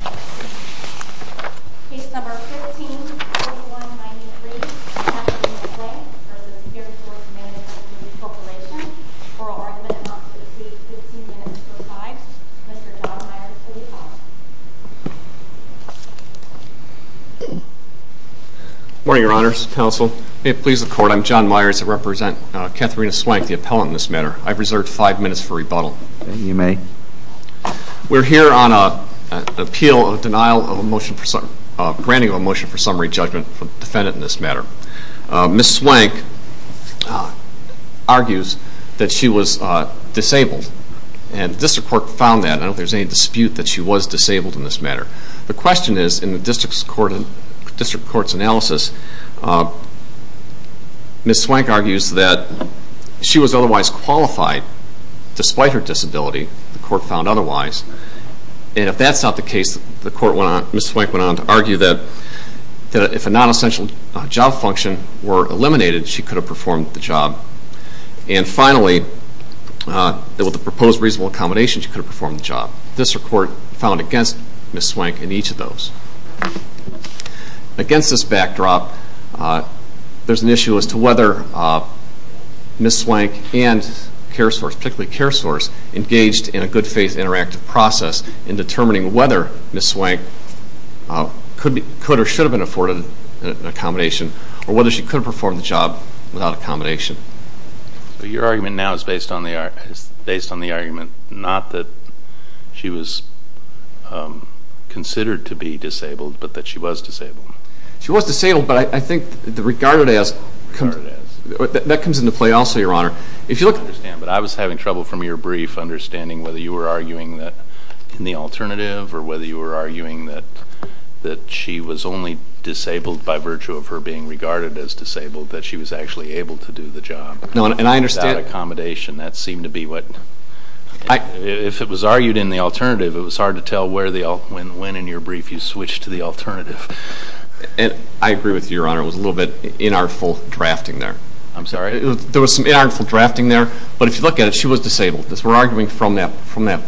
15.4193 Kathleen Swank v. CareSource Mgmt Group Corp. Oral argument amounting to 3.15 minutes for 5. Mr. John Myers, please call the roll. Morning, Your Honors. Counsel, may it please the Court, I'm John Myers. I represent Katherina Swank, the appellant in this matter. I've reserved 5 minutes for rebuttal. You may. We're here on an appeal of denial of motion, granting of a motion for summary judgment for the defendant in this matter. Ms. Swank argues that she was disabled, and the District Court found that. I don't know if there's any dispute that she was disabled in this matter. The question is, in the District Court's analysis, Ms. Swank argues that she was otherwise qualified, despite her disability. The Court found otherwise. And if that's not the case, Ms. Swank went on to argue that if a non-essential job function were eliminated, she could have performed the job. And finally, that with the proposed reasonable accommodations, she could have performed the job. This report found against Ms. Swank in each of those. Against this backdrop, there's an issue as to whether Ms. Swank and CareSource, particularly CareSource, engaged in a good-faith interactive process in determining whether Ms. Swank could or should have been afforded an accommodation, or whether she could have performed the job without accommodation. Your argument now is based on the argument not that she was considered to be disabled, but that she was disabled. She was disabled, but I think the regarded as... The regarded as. That comes into play also, Your Honor. If you look... I understand, but I was having trouble from your brief understanding whether you were arguing that in the alternative, or whether you were arguing that she was only disabled by virtue of her being regarded as disabled, that she was actually able to do the job. No, and I understand... Without accommodation. That seemed to be what... I... If it was argued in the alternative, it was hard to tell when in your brief you switched to the alternative. I agree with you, Your Honor. It was a little bit inartful drafting there. I'm sorry? There was some inartful drafting there, but if you look at it, she was disabled. We're arguing from that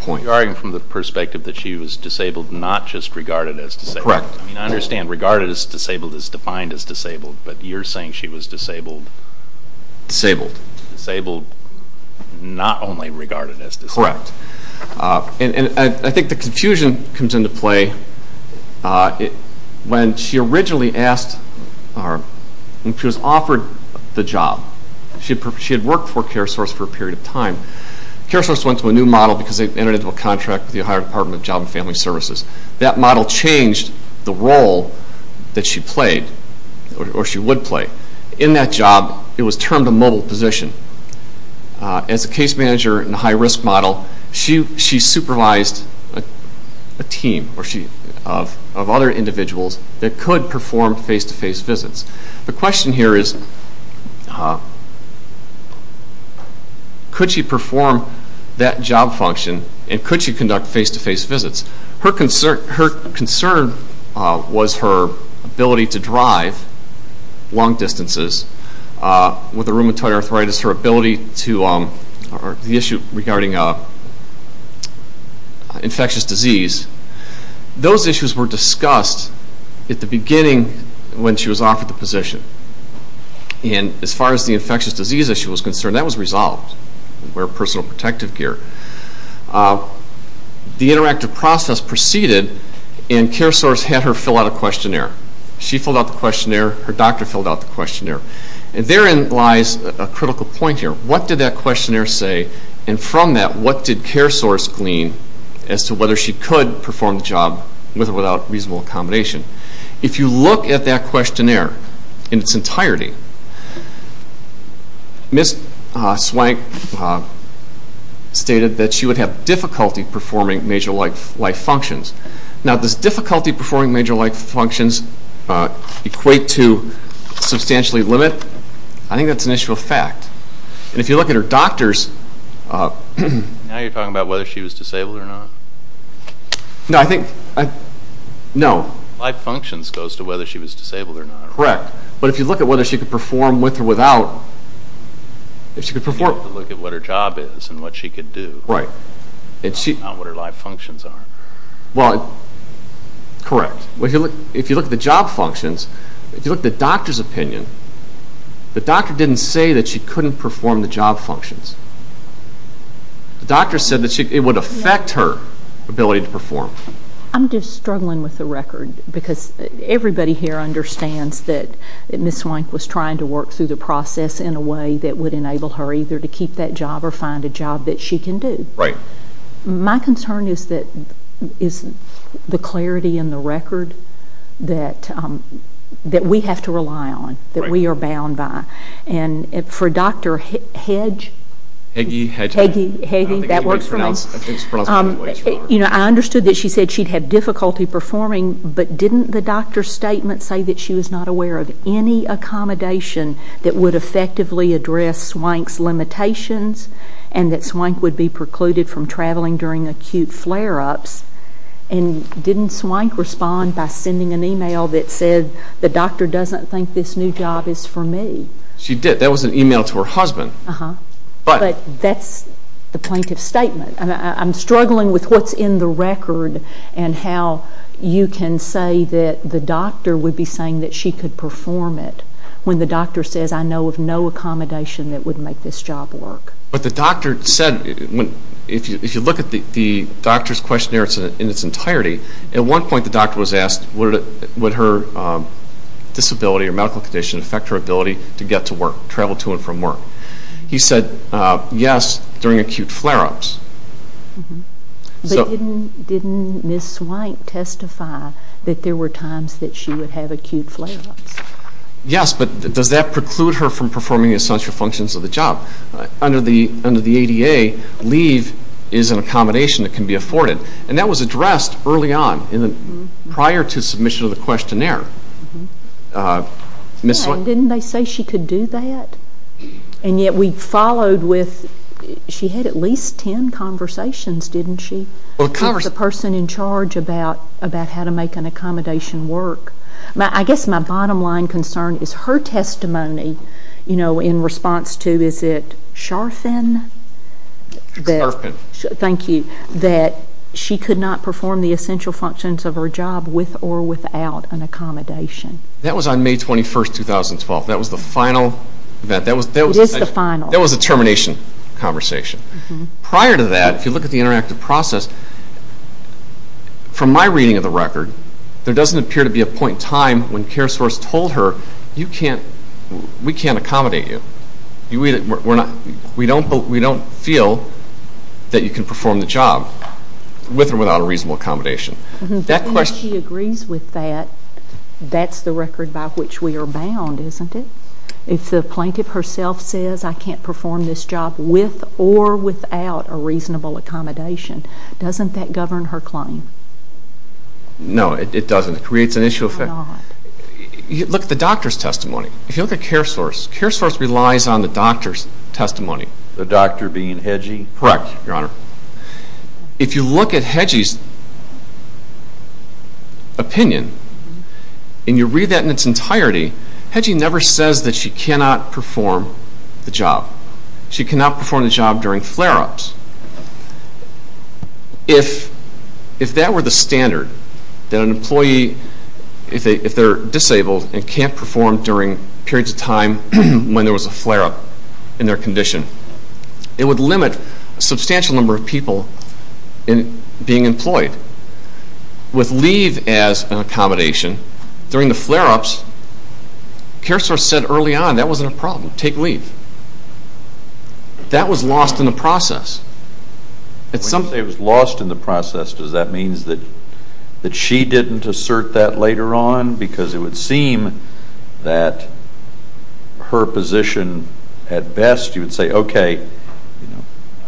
point. You're arguing from the perspective that she was disabled, not just regarded as disabled. Correct. I mean, I understand regarded as disabled is defined as disabled, but you're saying she was disabled... Disabled. Disabled, not only regarded as disabled. Correct. And I think the confusion comes into play when she originally asked... when she was offered the job. She had worked for CareSource for a period of time. CareSource went to a new model because they entered into a contract with the Ohio Department of Job and Family Services. That model changed the role that she played, or she would play. In that job, it was termed a mobile position. As a case manager in a high-risk model, she supervised a team of other individuals that could perform face-to-face visits. The question here is, could she perform that job function and could she conduct face-to-face visits? Her concern was her ability to drive long distances. With rheumatoid arthritis, her ability to... the issue regarding infectious disease. Those issues were discussed at the beginning when she was offered the position. And as far as the infectious disease issue was concerned, that was resolved. We're personal protective gear. The interactive process proceeded and CareSource had her fill out a questionnaire. She filled out the questionnaire. Her doctor filled out the questionnaire. And therein lies a critical point here. What did that questionnaire say? And from that, what did CareSource glean as to whether she could perform the job with or without reasonable accommodation? If you look at that questionnaire in its entirety, Ms. Swank stated that she would have difficulty performing major life functions. Now, does difficulty performing major life functions equate to substantially limit? I think that's an issue of fact. And if you look at her doctors... Now you're talking about whether she was disabled or not? No, I think... No. Life functions goes to whether she was disabled or not. Correct. But if you look at whether she could perform with or without, if she could perform... If you look at what her job is and what she could do. Right. Not what her life functions are. Well, correct. If you look at the job functions, if you look at the doctor's opinion, the doctor didn't say that she couldn't perform the job functions. The doctor said that it would affect her ability to perform. I'm just struggling with the record, because everybody here understands that Ms. Swank was trying to work through the process in a way that would enable her either to keep that job or find a job that she can do. Right. My concern is the clarity in the record that we have to rely on, that we are bound by. And for Dr. Hedge... Hagee. Hagee, that works for me. I understood that she said she'd have difficulty performing, but didn't the doctor's statement say that she was not aware of any accommodation that would effectively address Swank's limitations and that Swank would be precluded from traveling during acute flare-ups? And didn't Swank respond by sending an email that said, the doctor doesn't think this new job is for me? She did. That was an email to her husband. But that's the plaintiff's statement. I'm struggling with what's in the record and how you can say that the doctor would be saying that she could perform it when the doctor says, I know of no accommodation that would make this job work. But the doctor said, if you look at the doctor's questionnaire in its entirety, at one point the doctor was asked, would her disability or medical condition affect her ability to get to work, travel to and from work? He said, yes, during acute flare-ups. But didn't Ms. Swank testify that there were times that she would have acute flare-ups? Yes, but does that preclude her from performing essential functions of the job? Under the ADA, leave is an accommodation that can be afforded. And that was addressed early on, prior to submission of the questionnaire. Didn't they say she could do that? And yet we followed with, she had at least ten conversations, didn't she, with the person in charge about how to make an accommodation work? I guess my bottom line concern is her testimony in response to, is it Sharfin? Sharfin. Thank you. That she could not perform the essential functions of her job with or without an accommodation. That was on May 21, 2012. That was the final event. It is the final. That was a termination conversation. Prior to that, if you look at the interactive process, from my reading of the record, there doesn't appear to be a point in time when CareSource told her, we can't accommodate you. We don't feel that you can perform the job with or without a reasonable accommodation. If she agrees with that, that's the record by which we are bound, isn't it? If the plaintiff herself says, I can't perform this job with or without a reasonable accommodation, doesn't that govern her claim? No, it doesn't. It creates an issue. Why not? Look at the doctor's testimony. If you look at CareSource, CareSource relies on the doctor's testimony. The doctor being Hedgie? Correct, Your Honor. If you look at Hedgie's opinion, and you read that in its entirety, Hedgie never says that she cannot perform the job. She cannot perform the job during flare-ups. If that were the standard, that an employee, if they're disabled, and can't perform during periods of time when there was a flare-up in their condition, it would limit a substantial number of people in being employed. With leave as an accommodation, during the flare-ups, CareSource said early on that wasn't a problem. Take leave. That was lost in the process. When you say it was lost in the process, does that mean that she didn't assert that later on? Because it would seem that her position at best, you would say, okay,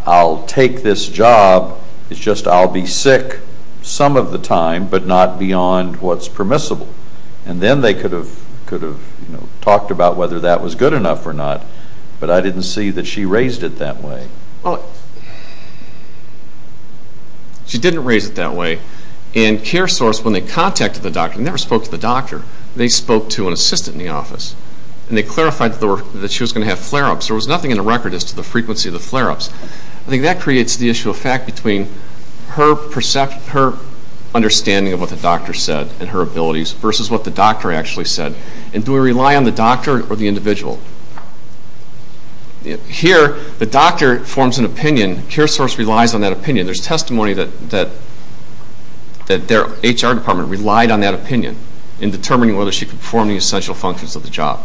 I'll take this job. It's just I'll be sick some of the time, but not beyond what's permissible. Then they could have talked about whether that was good enough or not, but I didn't see that she raised it that way. She didn't raise it that way. CareSource, when they contacted the doctor, never spoke to the doctor. They spoke to an assistant in the office. They clarified that she was going to have flare-ups. There was nothing in the record as to the frequency of the flare-ups. I think that creates the issue of fact between her understanding of what the doctor said and her abilities versus what the doctor actually said. Do we rely on the doctor or the individual? Here, the doctor forms an opinion. CareSource relies on that opinion. There's testimony that their HR department relied on that opinion in determining whether she could perform the essential functions of the job.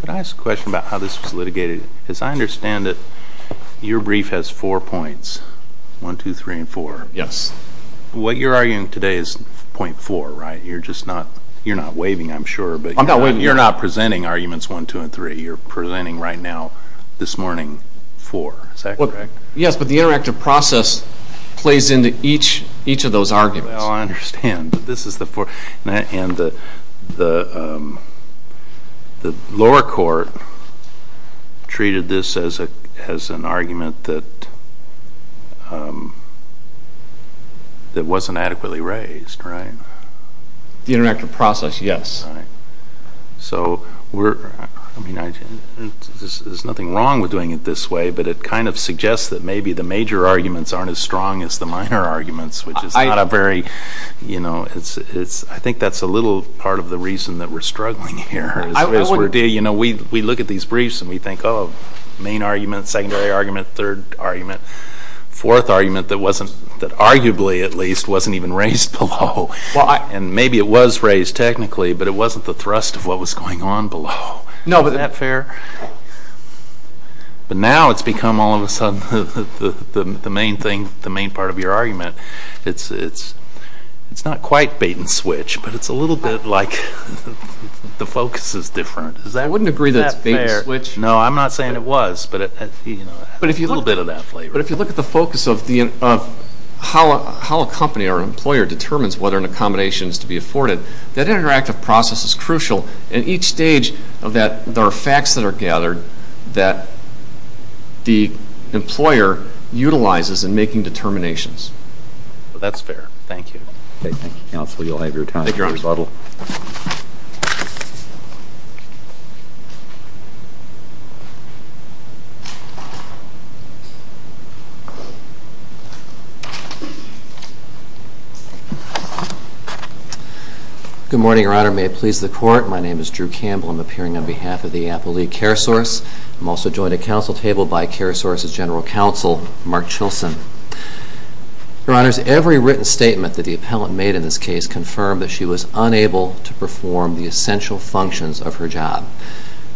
Could I ask a question about how this was litigated? Because I understand that your brief has four points, one, two, three, and four. Yes. What you're arguing today is point four, right? You're not waving, I'm sure. I'm not waving. You're not presenting arguments one, two, and three. You're presenting right now, this morning, four. Is that correct? Yes, but the interactive process plays into each of those arguments. Well, I understand, but this is the fourth. And the lower court treated this as an argument that wasn't adequately raised, right? The interactive process, yes. Right. So there's nothing wrong with doing it this way, but it kind of suggests that maybe the major arguments aren't as strong as the minor arguments, which is not a very, you know, I think that's a little part of the reason that we're struggling here. You know, we look at these briefs and we think, oh, main argument, secondary argument, third argument, fourth argument that arguably, at least, wasn't even raised below. And maybe it was raised technically, but it wasn't the thrust of what was going on below. Isn't that fair? But now it's become, all of a sudden, the main thing, the main part of your argument. It's not quite bait and switch, but it's a little bit like the focus is different. I wouldn't agree that it's bait and switch. No, I'm not saying it was, but a little bit of that flavor. But if you look at the focus of how a company or an employer determines whether an accommodation is to be afforded, that interactive process is crucial. And each stage of that, there are facts that are gathered that the employer utilizes in making determinations. Well, that's fair. Thank you. Okay, thank you, counsel. You'll have your time to rebuttal. Thank you, Your Honor. Good morning, Your Honor. May it please the Court, my name is Drew Campbell. I'm appearing on behalf of the Appellee Care Source. I'm also joined at counsel table by Care Source's General Counsel, Mark Chilson. Your Honors, every written statement that the appellant made in this case confirmed that she was unable to perform the essential functions of her job.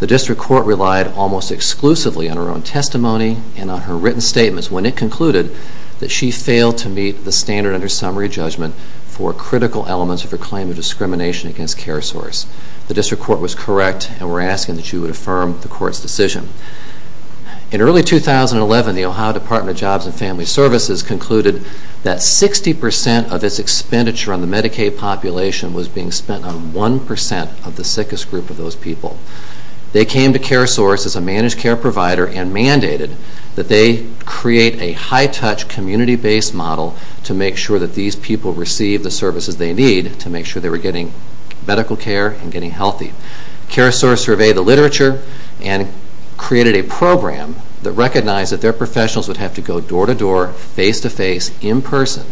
The District Court relied almost exclusively on her own testimony and on her written statements when it concluded that she failed to meet the standard under summary judgment for critical elements of her claim of discrimination against Care Source. The District Court was correct and we're asking that you would affirm the Court's decision. In early 2011, the Ohio Department of Jobs and Family Services concluded that 60% of its expenditure on the Medicaid population was being spent on 1% of the sickest group of those people. They came to Care Source as a managed care provider and mandated that they create a high-touch community-based model to make sure that these people receive the services they need to make sure they were getting medical care and getting healthy. Care Source surveyed the literature and created a program that recognized that their professionals would have to go door-to-door, face-to-face, in person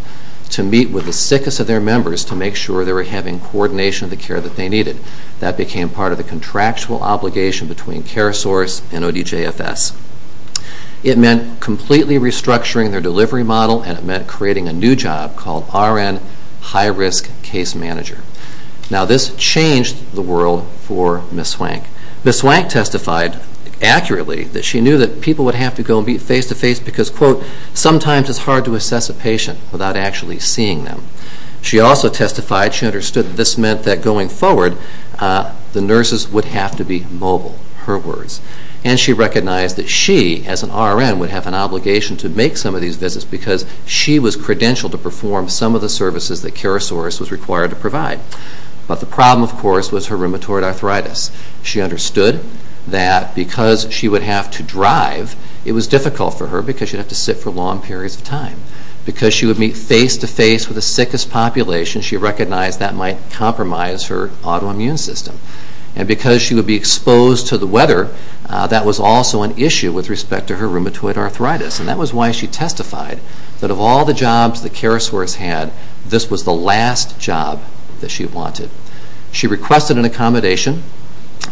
to meet with the sickest of their members to make sure they were having coordination of the care that they needed. That became part of the contractual obligation between Care Source and ODJFS. It meant completely restructuring their delivery model and it meant creating a new job called RN, High Risk Case Manager. Now this changed the world for Ms. Swank. Ms. Swank testified accurately that she knew that people would have to go face-to-face because, quote, sometimes it's hard to assess a patient without actually seeing them. She also testified she understood that this meant that going forward the nurses would have to be mobile, her words. And she recognized that she, as an RN, would have an obligation to make some of these visits because she was credentialed to perform some of the services that Care Source was required to provide. But the problem, of course, was her rheumatoid arthritis. She understood that because she would have to drive, it was difficult for her because she would have to sit for long periods of time. Because she would meet face-to-face with the sickest population, she recognized that might compromise her autoimmune system. And because she would be exposed to the weather, that was also an issue with respect to her rheumatoid arthritis. And that was why she testified that of all the jobs that Care Source had, this was the last job that she wanted. She requested an accommodation.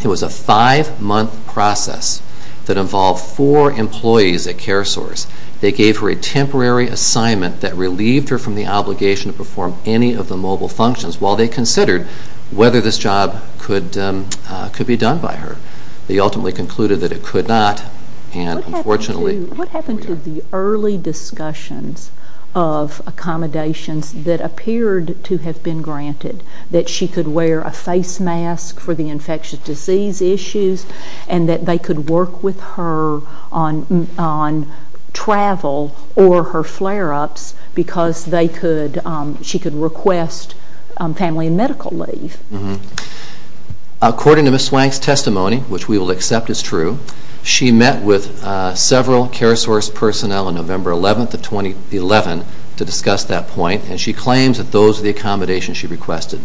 It was a five-month process that involved four employees at Care Source. They gave her a temporary assignment that relieved her from the obligation to perform any of the mobile functions while they considered whether this job could be done by her. They ultimately concluded that it could not. And, unfortunately, here we are. What happened to the early discussions of accommodations that appeared to have been granted, that she could wear a face mask for the infectious disease issues and that they could work with her on travel or her flare-ups because she could request family and medical leave. According to Ms. Swank's testimony, which we will accept is true, she met with several Care Source personnel on November 11th of 2011 to discuss that point, and she claims that those are the accommodations she requested.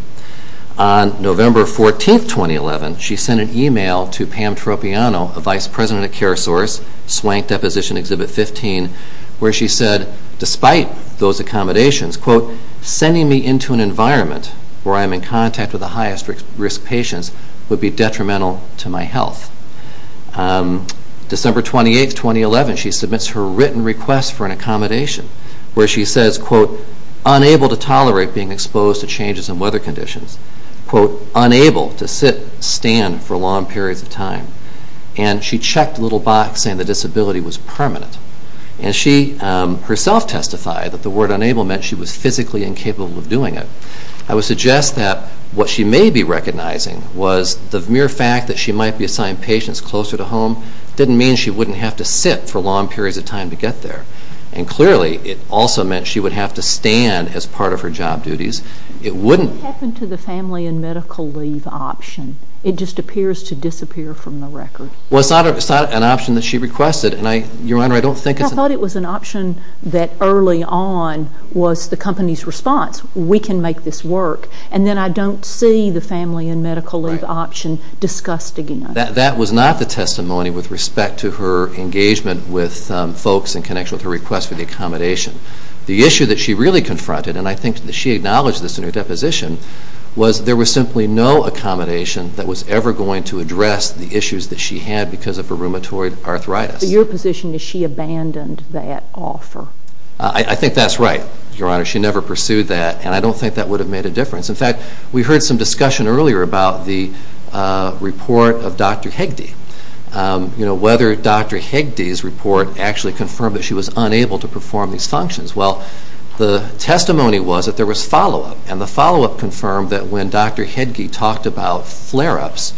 On November 14th, 2011, she sent an email to Pam Tropiano, a vice president at Care Source, Swank Deposition Exhibit 15, where she said, despite those accommodations, quote, sending me into an environment where I'm in contact with the highest risk patients would be detrimental to my health. December 28th, 2011, she submits her written request for an accommodation where she says, quote, unable to tolerate being exposed to changes in weather conditions, quote, unable to sit, stand for long periods of time. And she checked a little box saying the disability was permanent. And she herself testified that the word unable meant she was physically incapable of doing it. I would suggest that what she may be recognizing was the mere fact that she might be assigned patients closer to home didn't mean she wouldn't have to sit for long periods of time to get there. And clearly, it also meant she would have to stand as part of her job duties. What happened to the family and medical leave option? It just appears to disappear from the record. Well, it's not an option that she requested. Your Honor, I don't think it's an option. I thought it was an option that early on was the company's response. We can make this work. And then I don't see the family and medical leave option discussed again. That was not the testimony with respect to her engagement with folks in connection with her request for the accommodation. The issue that she really confronted, and I think that she acknowledged this in her deposition, was there was simply no accommodation that was ever going to address the issues that she had because of her rheumatoid arthritis. Your position is she abandoned that offer. I think that's right, Your Honor. She never pursued that, and I don't think that would have made a difference. In fact, we heard some discussion earlier about the report of Dr. Hegde, whether Dr. Hegde's report actually confirmed that she was unable to perform these functions. Well, the testimony was that there was follow-up, and the follow-up confirmed that when Dr. Hegde talked about flare-ups,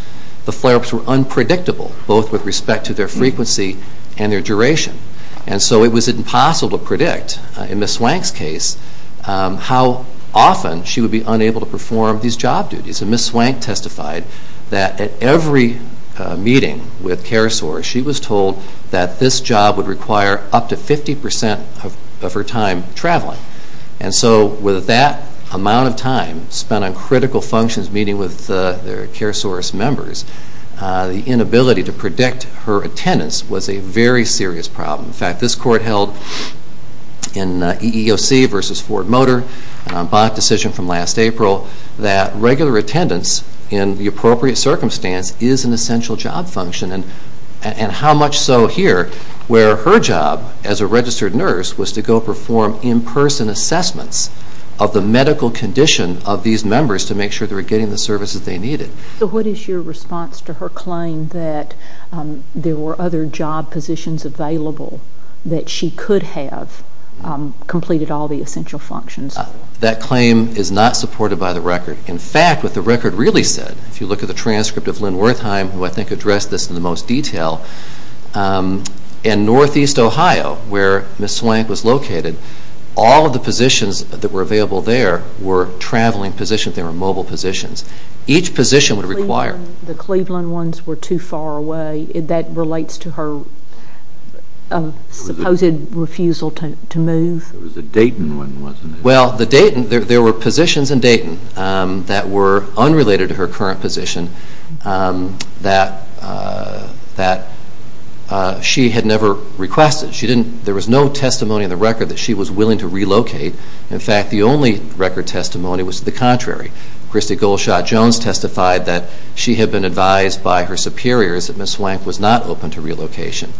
the flare-ups were unpredictable, both with respect to their frequency and their duration. And so it was impossible to predict, in Ms. Swank's case, how often she would be unable to perform these job duties. And Ms. Swank testified that at every meeting with Carisaurus, she was told that this job would require up to 50% of her time traveling. And so with that amount of time spent on critical functions, meeting with the Carisaurus members, the inability to predict her attendance was a very serious problem. In fact, this court held in EEOC v. Ford Motor, an en banc decision from last April, that regular attendance in the appropriate circumstance is an essential job function, and how much so here, where her job as a registered nurse was to go perform in-person assessments of the medical condition of these members to make sure they were getting the services they needed. So what is your response to her claim that there were other job positions available that she could have completed all the essential functions? That claim is not supported by the record. In fact, what the record really said, if you look at the transcript of Lynn Wertheim, who I think addressed this in the most detail, in Northeast Ohio, where Ms. Swank was located, all of the positions that were available there were traveling positions. They were mobile positions. Each position would require... The Cleveland ones were too far away. That relates to her supposed refusal to move. It was the Dayton one, wasn't it? Well, there were positions in Dayton that were unrelated to her current position that she had never requested. There was no testimony in the record that she was willing to relocate. In fact, the only record testimony was the contrary. Christy Goldshot-Jones testified that she had been advised by her superiors that Ms. Swank was not open to relocation.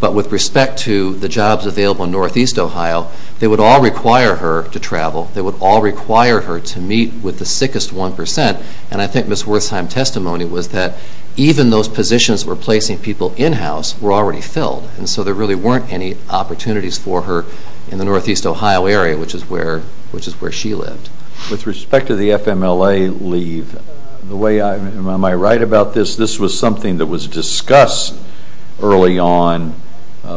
But with respect to the jobs available in Northeast Ohio, they would all require her to travel. They would all require her to meet with the sickest 1%. And I think Ms. Wertheim's testimony was that even those positions that were placing people in-house were already filled, and so there really weren't any opportunities for her in the Northeast Ohio area, which is where she lived. With respect to the FMLA leave, am I right about this? This was something that was discussed early on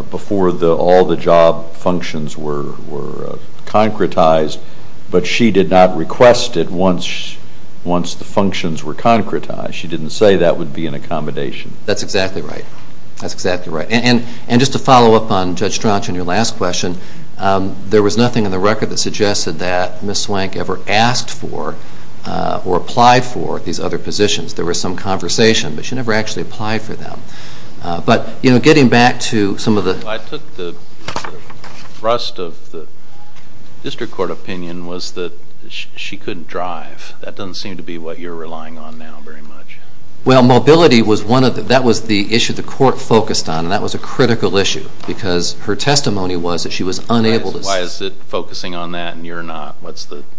before all the job functions were concretized, but she did not request it once the functions were concretized. She didn't say that would be an accommodation. That's exactly right. That's exactly right. And just to follow up on Judge Strachan, your last question, there was nothing in the record that suggested that Ms. Swank ever asked for or applied for these other positions. There was some conversation, but she never actually applied for them. But getting back to some of the— I took the thrust of the district court opinion was that she couldn't drive. That doesn't seem to be what you're relying on now very much. Well, mobility was one of the—that was the issue the court focused on, and that was a critical issue because her testimony was that she was unable to— Why is it focusing on that and you're not? Well,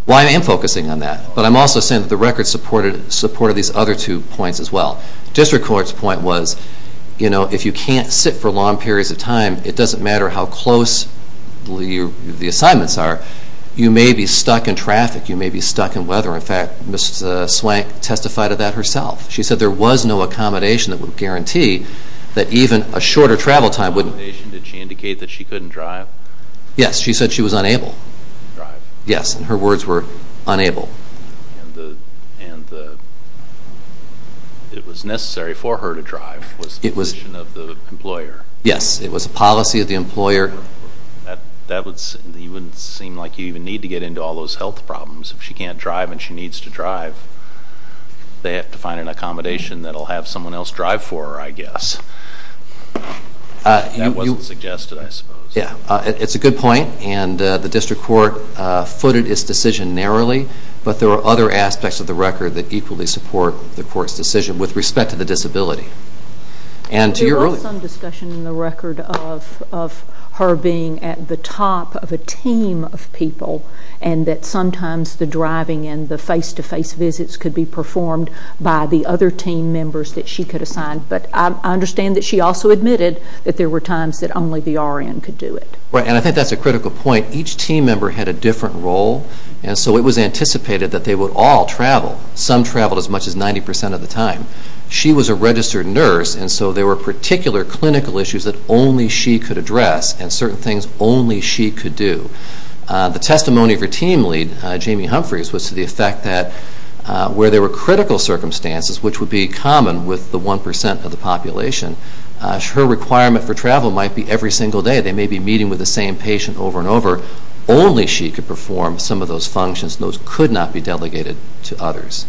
I am focusing on that, but I'm also saying that the record supported these other two points as well. The district court's point was if you can't sit for long periods of time, it doesn't matter how close the assignments are, you may be stuck in traffic. You may be stuck in weather. In fact, Ms. Swank testified of that herself. She said there was no accommodation that would guarantee that even a shorter travel time wouldn't— Did she indicate that she couldn't drive? Yes, she said she was unable. Drive. Yes, and her words were unable. And it was necessary for her to drive was the position of the employer. Yes, it was a policy of the employer. That would—it wouldn't seem like you even need to get into all those health problems. If she can't drive and she needs to drive, they have to find an accommodation that will have someone else drive for her, I guess. That wasn't suggested, I suppose. Yes, it's a good point, and the district court footed its decision narrowly, but there are other aspects of the record that equally support the court's decision with respect to the disability. And to your earlier— There was some discussion in the record of her being at the top of a team of people and that sometimes the driving and the face-to-face visits could be performed by the other team members that she could assign. But I understand that she also admitted that there were times that only the RN could do it. Right, and I think that's a critical point. Each team member had a different role, and so it was anticipated that they would all travel. Some traveled as much as 90 percent of the time. She was a registered nurse, and so there were particular clinical issues that only she could address and certain things only she could do. The testimony of her team lead, Jamie Humphreys, was to the effect that where there were critical circumstances, which would be common with the 1 percent of the population, her requirement for travel might be every single day. They may be meeting with the same patient over and over. Only she could perform some of those functions. Those could not be delegated to others.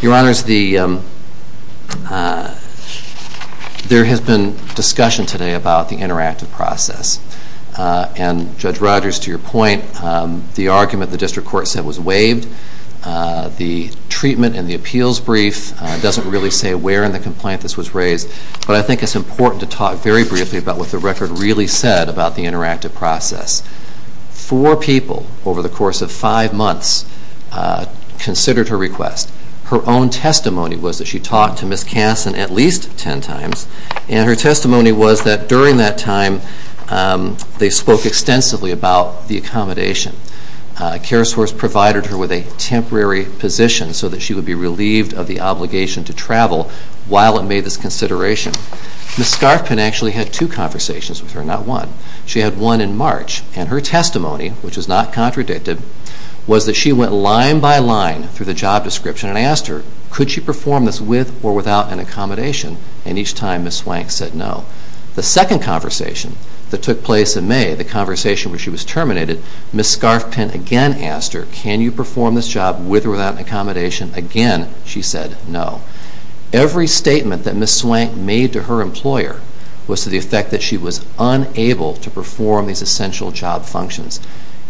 Your Honors, there has been discussion today about the interactive process. And Judge Rogers, to your point, the argument the district court said was waived. The treatment and the appeals brief doesn't really say where in the complaint this was raised, but I think it's important to talk very briefly about what the record really said about the interactive process. Four people over the course of five months considered her request. Her own testimony was that she talked to Ms. Kasson at least ten times, and her testimony was that during that time they spoke extensively about the accommodation. CareSource provided her with a temporary position so that she would be relieved of the obligation to travel while it made this consideration. Ms. Scarfpin actually had two conversations with her, not one. She had one in March, and her testimony, which was not contradicted, was that she went line by line through the job description and asked her, could she perform this with or without an accommodation? And each time Ms. Swank said no. The second conversation that took place in May, the conversation where she was terminated, Ms. Scarfpin again asked her, can you perform this job with or without an accommodation? Again, she said no. Every statement that Ms. Swank made to her employer was to the effect that she was unable to perform these essential job functions.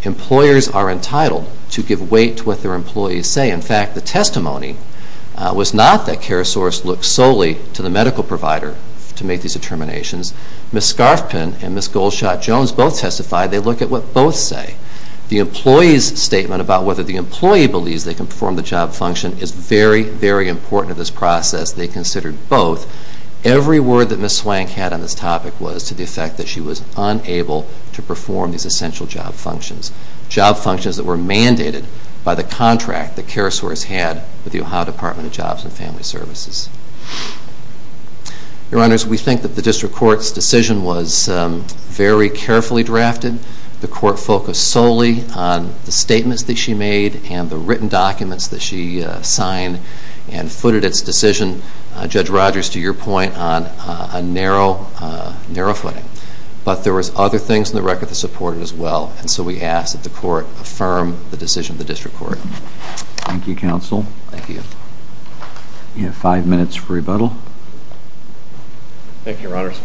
Employers are entitled to give weight to what their employees say. In fact, the testimony was not that CareSource looked solely to the medical provider to make these determinations. Ms. Scarfpin and Ms. Goldshot-Jones both testified. They looked at what both say. The employee's statement about whether the employee believes they can perform the job function is very, very important to this process. They considered both. Every word that Ms. Swank had on this topic was to the effect that she was unable to perform these essential job functions, job functions that were mandated by the contract that CareSource had with the Ohio Department of Jobs and Family Services. Your Honors, we think that the District Court's decision was very carefully drafted. The Court focused solely on the statements that she made and the written documents that she signed and footed its decision, Judge Rogers, to your point, on a narrow footing. But there were other things in the record that supported it as well. And so we ask that the Court affirm the decision of the District Court. Thank you, Counsel. Thank you. You have five minutes for rebuttal. Thank you, Your Honors.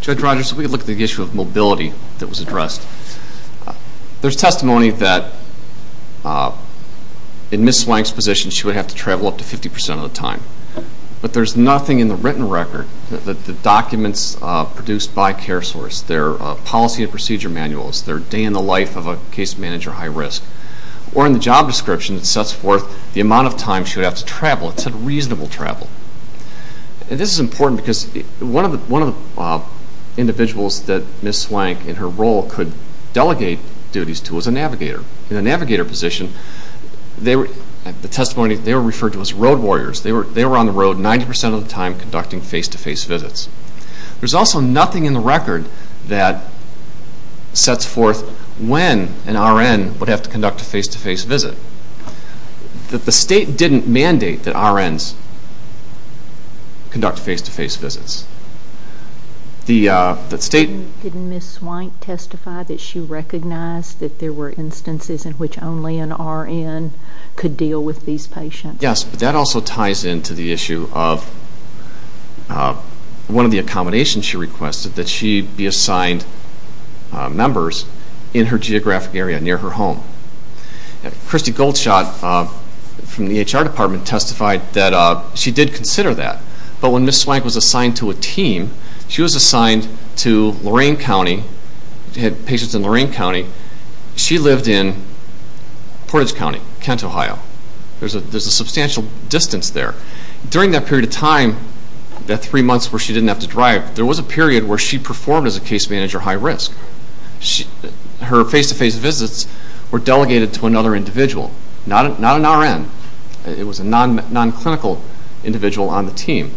Judge Rogers, let me look at the issue of mobility that was addressed. There's testimony that in Ms. Swank's position, she would have to travel up to 50% of the time. But there's nothing in the written record that the documents produced by CareSource, their policy and procedure manuals, their day in the life of a case manager high risk, or in the job description that sets forth the amount of time she would have to travel. It said reasonable travel. And this is important because one of the individuals that Ms. Swank in her role could delegate duties to was a navigator. In the navigator position, the testimony, they were referred to as road warriors. They were on the road 90% of the time conducting face-to-face visits. There's also nothing in the record that sets forth when an RN would have to conduct a face-to-face visit. The State didn't mandate that RNs conduct face-to-face visits. Didn't Ms. Swank testify that she recognized that there were instances in which only an RN could deal with these patients? Yes, but that also ties into the issue of one of the accommodations she requested, that she be assigned members in her geographic area near her home. Christy Goldschott from the HR department testified that she did consider that. But when Ms. Swank was assigned to a team, she was assigned to Lorain County. She had patients in Lorain County. She lived in Portage County, Kent, Ohio. There's a substantial distance there. During that period of time, that three months where she didn't have to drive, there was a period where she performed as a case manager high risk. Her face-to-face visits were delegated to another individual, not an RN. It was a non-clinical individual on the team.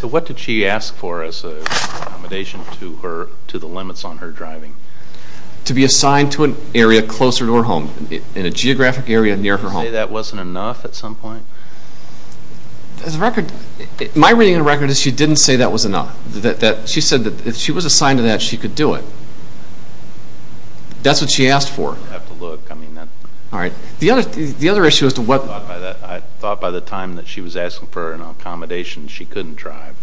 So what did she ask for as an accommodation to the limits on her driving? To be assigned to an area closer to her home, in a geographic area near her home. Did she say that wasn't enough at some point? My reading of the record is she didn't say that was enough. She said that if she was assigned to that, she could do it. That's what she asked for. I thought by the time that she was asking for an accommodation, she couldn't drive.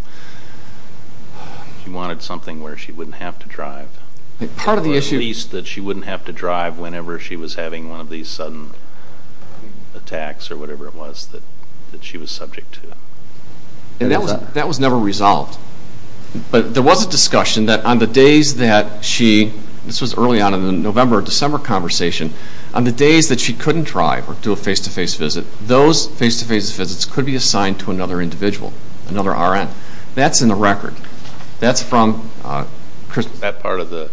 She wanted something where she wouldn't have to drive. At least that she wouldn't have to drive whenever she was having one of these sudden attacks or whatever it was that she was subject to. That was never resolved. But there was a discussion that on the days that she, this was early on in the November-December conversation, on the days that she couldn't drive or do a face-to-face visit, that those face-to-face visits could be assigned to another individual, another R.N. That's in the record. That's from Christmas. That part of the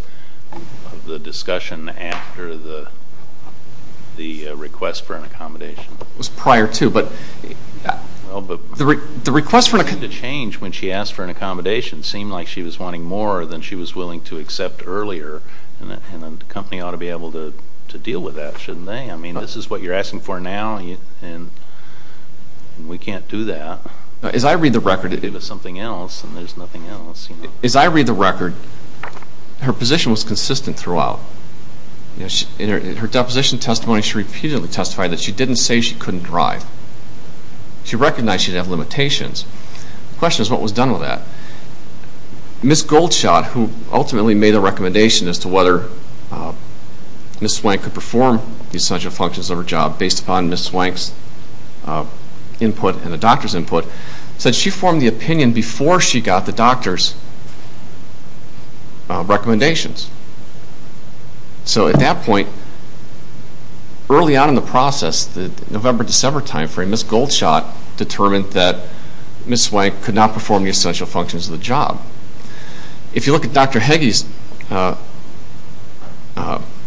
discussion after the request for an accommodation. It was prior to, but the request for an accommodation. The change when she asked for an accommodation seemed like she was wanting more than she was willing to accept earlier, and the company ought to be able to deal with that, shouldn't they? I mean, this is what you're asking for now, and we can't do that. As I read the record. Give us something else, and there's nothing else. As I read the record, her position was consistent throughout. In her deposition testimony, she repeatedly testified that she didn't say she couldn't drive. She recognized she'd have limitations. The question is, what was done with that? Ms. Goldshot, who ultimately made a recommendation as to whether Ms. Swank could perform the essential functions of her job based upon Ms. Swank's input and the doctor's input, said she formed the opinion before she got the doctor's recommendations. So at that point, early on in the process, the November-December timeframe, Ms. Goldshot determined that Ms. Swank could not perform the essential functions of the job. If you look at Dr. Heggie's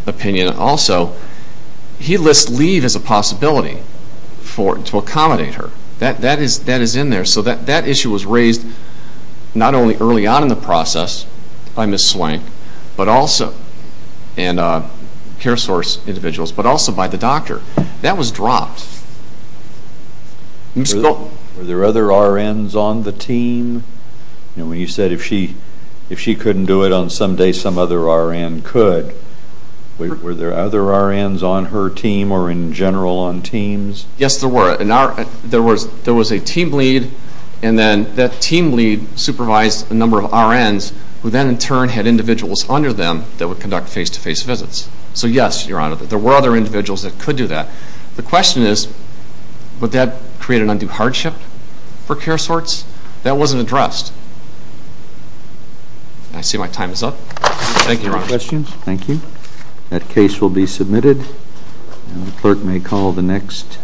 opinion also, he lists leave as a possibility to accommodate her. That is in there. So that issue was raised not only early on in the process by Ms. Swank and care source individuals, but also by the doctor. That was dropped. Were there other RNs on the team? You said if she couldn't do it on some day, some other RN could. Were there other RNs on her team or in general on teams? Yes, there were. There was a team lead, and then that team lead supervised a number of RNs, who then in turn had individuals under them that would conduct face-to-face visits. So yes, Your Honor, there were other individuals that could do that. The question is, would that create an undue hardship for care sorts? That wasn't addressed. I see my time is up. Thank you, Your Honor. Questions? Thank you. That case will be submitted, and the clerk may call the next.